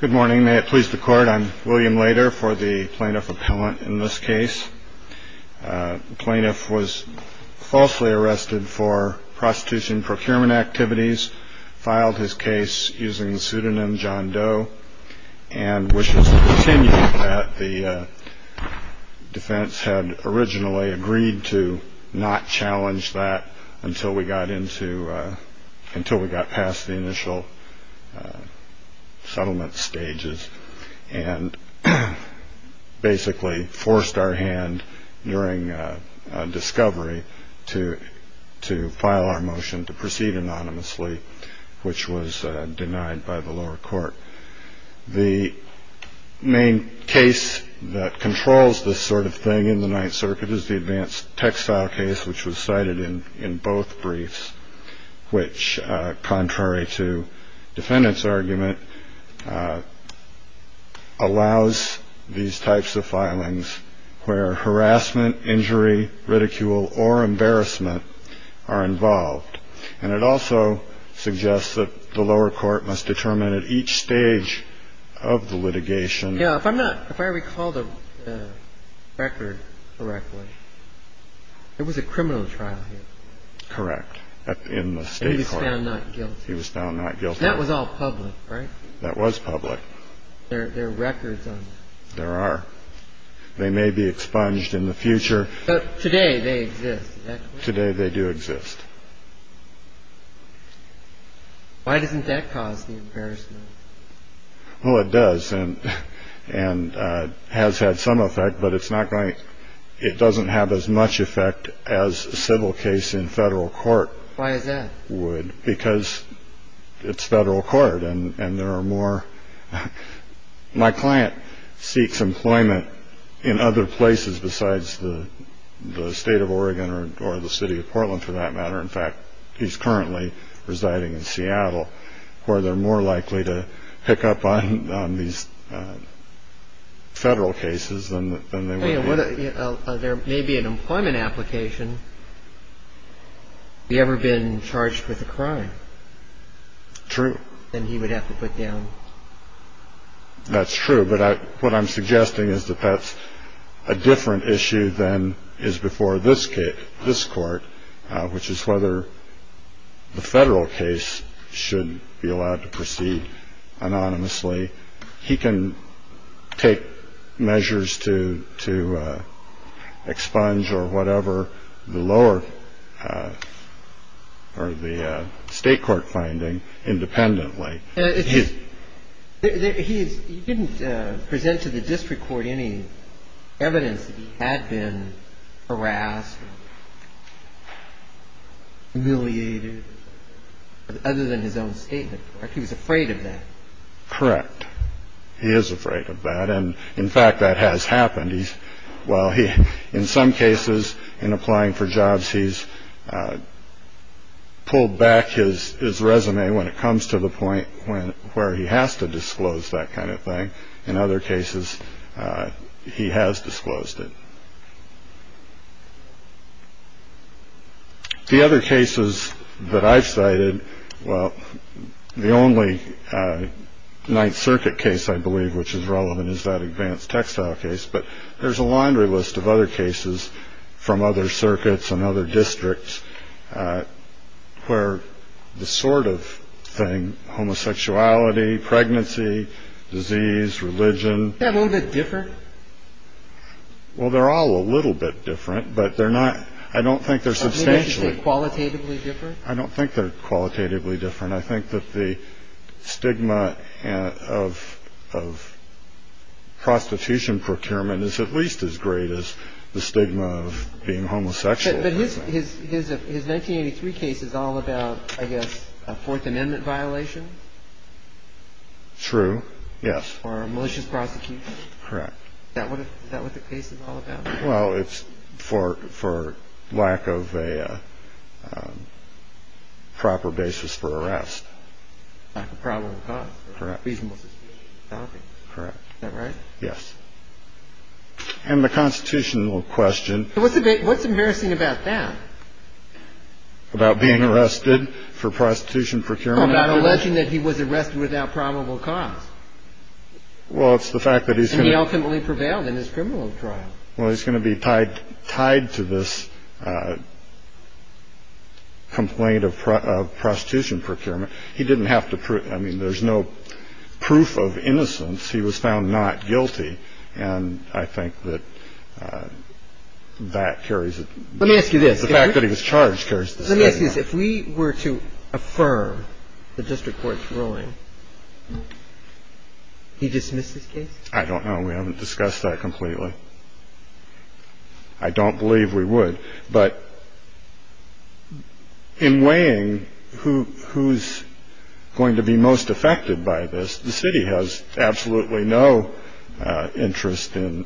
Good morning. May it please the Court, I'm William Lader for the Plaintiff Appellant in this case. The plaintiff was falsely arrested for prostitution and procurement activities, filed his case using the pseudonym John Doe and wishes to continue that. The defense had originally agreed to not challenge that until we got past the initial settlement stages and basically forced our hand during discovery to file our motion to proceed anonymously, which was denied by the lower court. The main case that controls this sort of thing in the Ninth Circuit is the advanced textile case, which was cited in in both briefs, which, contrary to defendants argument, allows these types of filings where harassment, injury, ridicule or embarrassment are involved. And it also suggests that the lower court must determine at each stage of the litigation. Yeah. If I'm not if I recall the record correctly, it was a criminal trial. Correct. In the state, he was found not guilty. That was all public, right? That was public. Records. There are. They may be expunged in the future. Today they exist. Today they do exist. Why doesn't that cause the embarrassment? Oh, it does. And and has had some effect, but it's not going. It doesn't have as much effect as civil case in federal court. Why is that? Would because it's federal court and there are more. My client seeks employment in other places besides the state of Oregon or the city of Portland, for that matter. In fact, he's currently residing in Seattle where they're more likely to pick up on these federal cases. There may be an employment application. Ever been charged with a crime. True. And he would have to put down. That's true. But what I'm suggesting is that that's a different issue than is before this case, this court, which is whether the federal case should be allowed to proceed anonymously. He can take measures to to expunge or whatever the lower or the state court finding independently. He didn't present to the district court any evidence that he had been harassed, humiliated. Other than his own statement, he was afraid of that. Correct. He is afraid of that. And in fact, that has happened. Well, he in some cases in applying for jobs, he's pulled back his his resume when it comes to the point when where he has to disclose that kind of thing. In other cases, he has disclosed it. The other cases that I've cited. Well, the only Ninth Circuit case I believe which is relevant is that advanced textile case. But there's a laundry list of other cases from other circuits and other districts where the sort of thing, homosexuality, pregnancy, disease, religion, a little bit different. Well, they're all a little bit different, but they're not. I don't think they're substantially qualitatively different. I don't think they're qualitatively different. I think that the stigma of of prostitution procurement is at least as great as the stigma of being homosexual. But his his his 1983 case is all about, I guess, a Fourth Amendment violation. True. Yes. Or a malicious prosecution. Correct. Now, what is that what the case is all about? Well, it's for for lack of a proper basis for arrest. Problem. Correct. Correct. Right. Yes. And the constitutional question. What's the big what's embarrassing about that? About being arrested for prostitution procurement, not alleging that he was arrested without probable cause. Well, it's the fact that he's ultimately prevailed in his criminal trial. Well, he's going to be tied, tied to this complaint of prostitution procurement. He didn't have to. I mean, there's no proof of innocence. He was found not guilty. And I think that that carries. Let me ask you this. The fact that he was charged carries. This is if we were to affirm the district court's ruling. He dismissed his case. I don't know. We haven't discussed that completely. I don't believe we would. But in weighing who who's going to be most affected by this, the city has absolutely no interest in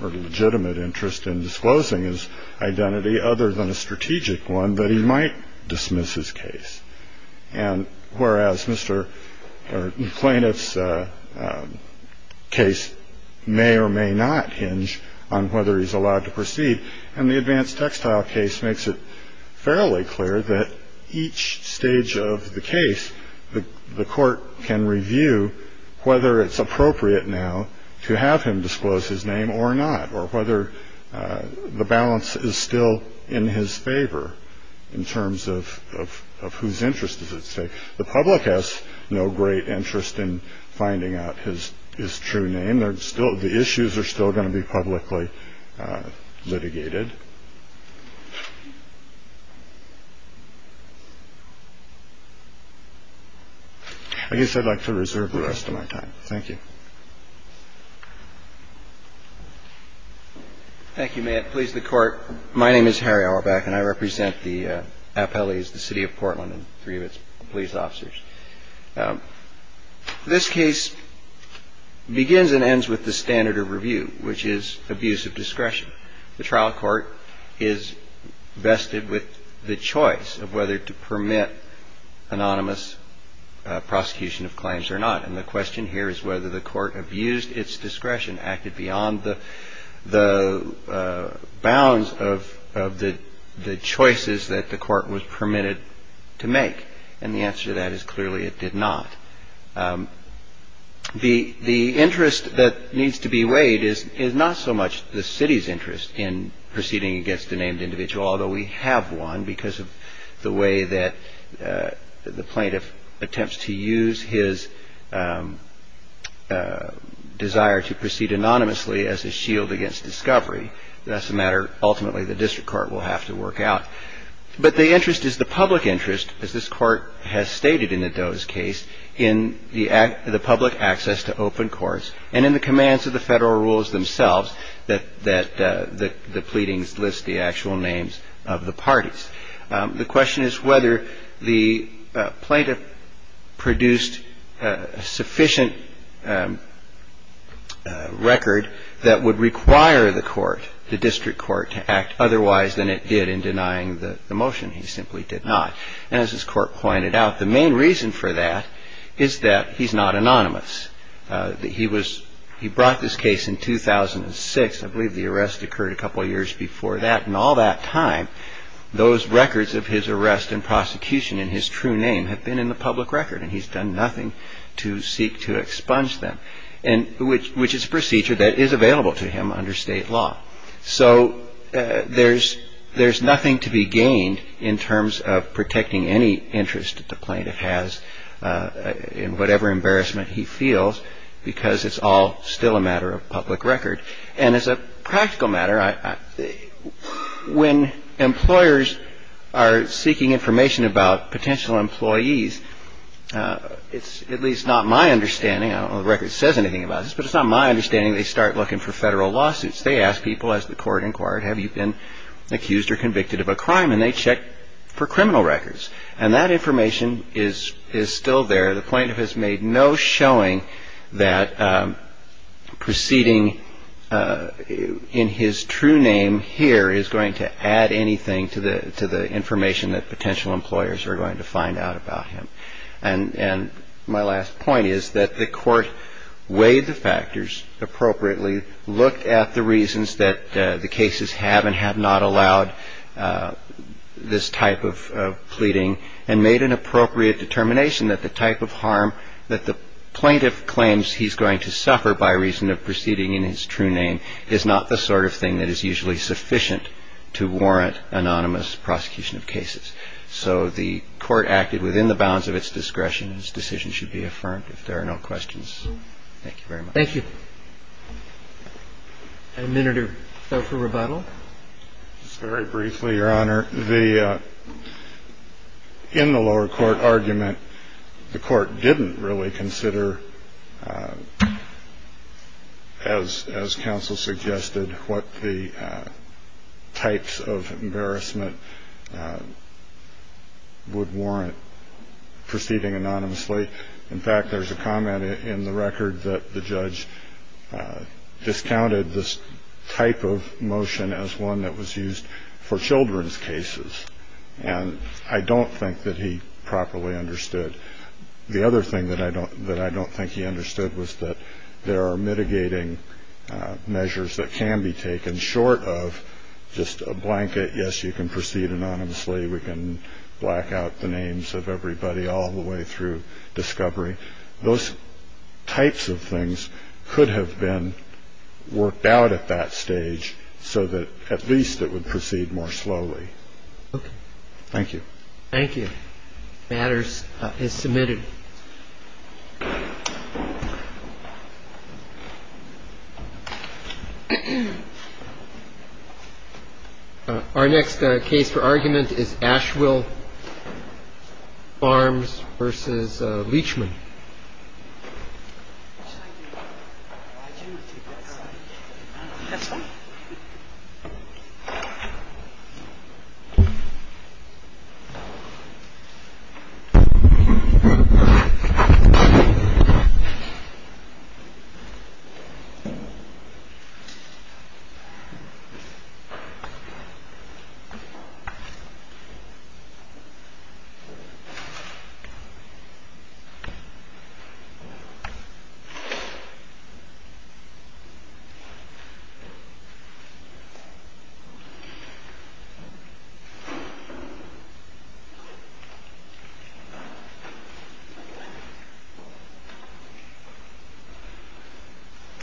legitimate interest in disclosing his identity other than a strategic one that he might dismiss his case. And whereas Mr. Plaintiff's case may or may not hinge on whether he's allowed to proceed. And the advanced textile case makes it fairly clear that each stage of the case, the court can review whether it's appropriate now to have him disclose his name or not, or whether the balance is still in his favor in terms of of of whose interest is at stake. The public has no great interest in finding out his his true name. And there's still the issues are still going to be publicly litigated. I guess I'd like to reserve the rest of my time. Thank you. Thank you, Matt. Please. The court. My name is Harry. I'll go back. And I represent the appellees, the city of Portland and three of its police officers. This case begins and ends with the standard of review, which is abuse of discretion. The trial court is vested with the choice of whether to permit anonymous prosecution of claims or not. And the question here is whether the court abused its discretion, acted beyond the the bounds of of the choices that the court was permitted to make. And the answer to that is clearly it did not. The the interest that needs to be weighed is is not so much the city's interest in proceeding against a named individual, although we have one because of the way that the plaintiff attempts to use his desire to proceed anonymously as a shield against discovery. That's a matter ultimately the district court will have to work out. But the interest is the public interest, as this court has stated in the Doe's case, in the the public access to open courts and in the commands of the federal rules themselves, that that the pleadings list the actual names of the parties. The question is whether the plaintiff produced sufficient record that would require the court, the district court to act otherwise than it did in denying the motion. He simply did not. And as this court pointed out, the main reason for that is that he's not anonymous. He was he brought this case in 2006. I believe the arrest occurred a couple of years before that. And all that time, those records of his arrest and prosecution in his true name have been in the public record. And he's done nothing to seek to expunge them and which which is a procedure that is available to him under state law. So there's there's nothing to be gained in terms of protecting any interest that the plaintiff has in whatever embarrassment he feels, because it's all still a matter of public record. And as a practical matter, when employers are seeking information about potential employees, it's at least not my understanding, I don't know if the record says anything about this, but it's not my understanding they start looking for federal lawsuits. They ask people, as the court inquired, have you been accused or convicted of a crime? And they check for criminal records. And that information is is still there. The plaintiff has made no showing that proceeding in his true name here is going to add anything to the to the information that potential employers are going to find out about him. And my last point is that the court weighed the factors appropriately, looked at the reasons that the cases have and have not allowed this type of pleading and made an appropriate determination that the type of harm that the plaintiff claims he's going to suffer by reason of proceeding in his true name is not the sort of thing that is usually sufficient to warrant anonymous prosecution of cases. So the court acted within the bounds of its discretion. Its decision should be affirmed. If there are no questions. Thank you very much. Thank you. Administer Tho for rebuttal. Very briefly, Your Honor, the in the lower court argument, the court didn't really consider as as counsel suggested what the types of embarrassment would warrant proceeding anonymously. In fact, there's a comment in the record that the judge discounted this type of motion as one that was used for children's cases. And I don't think that he properly understood. The other thing that I don't that I don't think he understood was that there are mitigating measures that can be taken short of just a blanket. Yes, you can proceed anonymously. We can black out the names of everybody all the way through discovery. Those types of things could have been worked out at that stage so that at least it would proceed more slowly. Thank you. Thank you. Matters is submitted. Our next case for argument is Asheville Farms versus Leachman. Thank you. Thank you.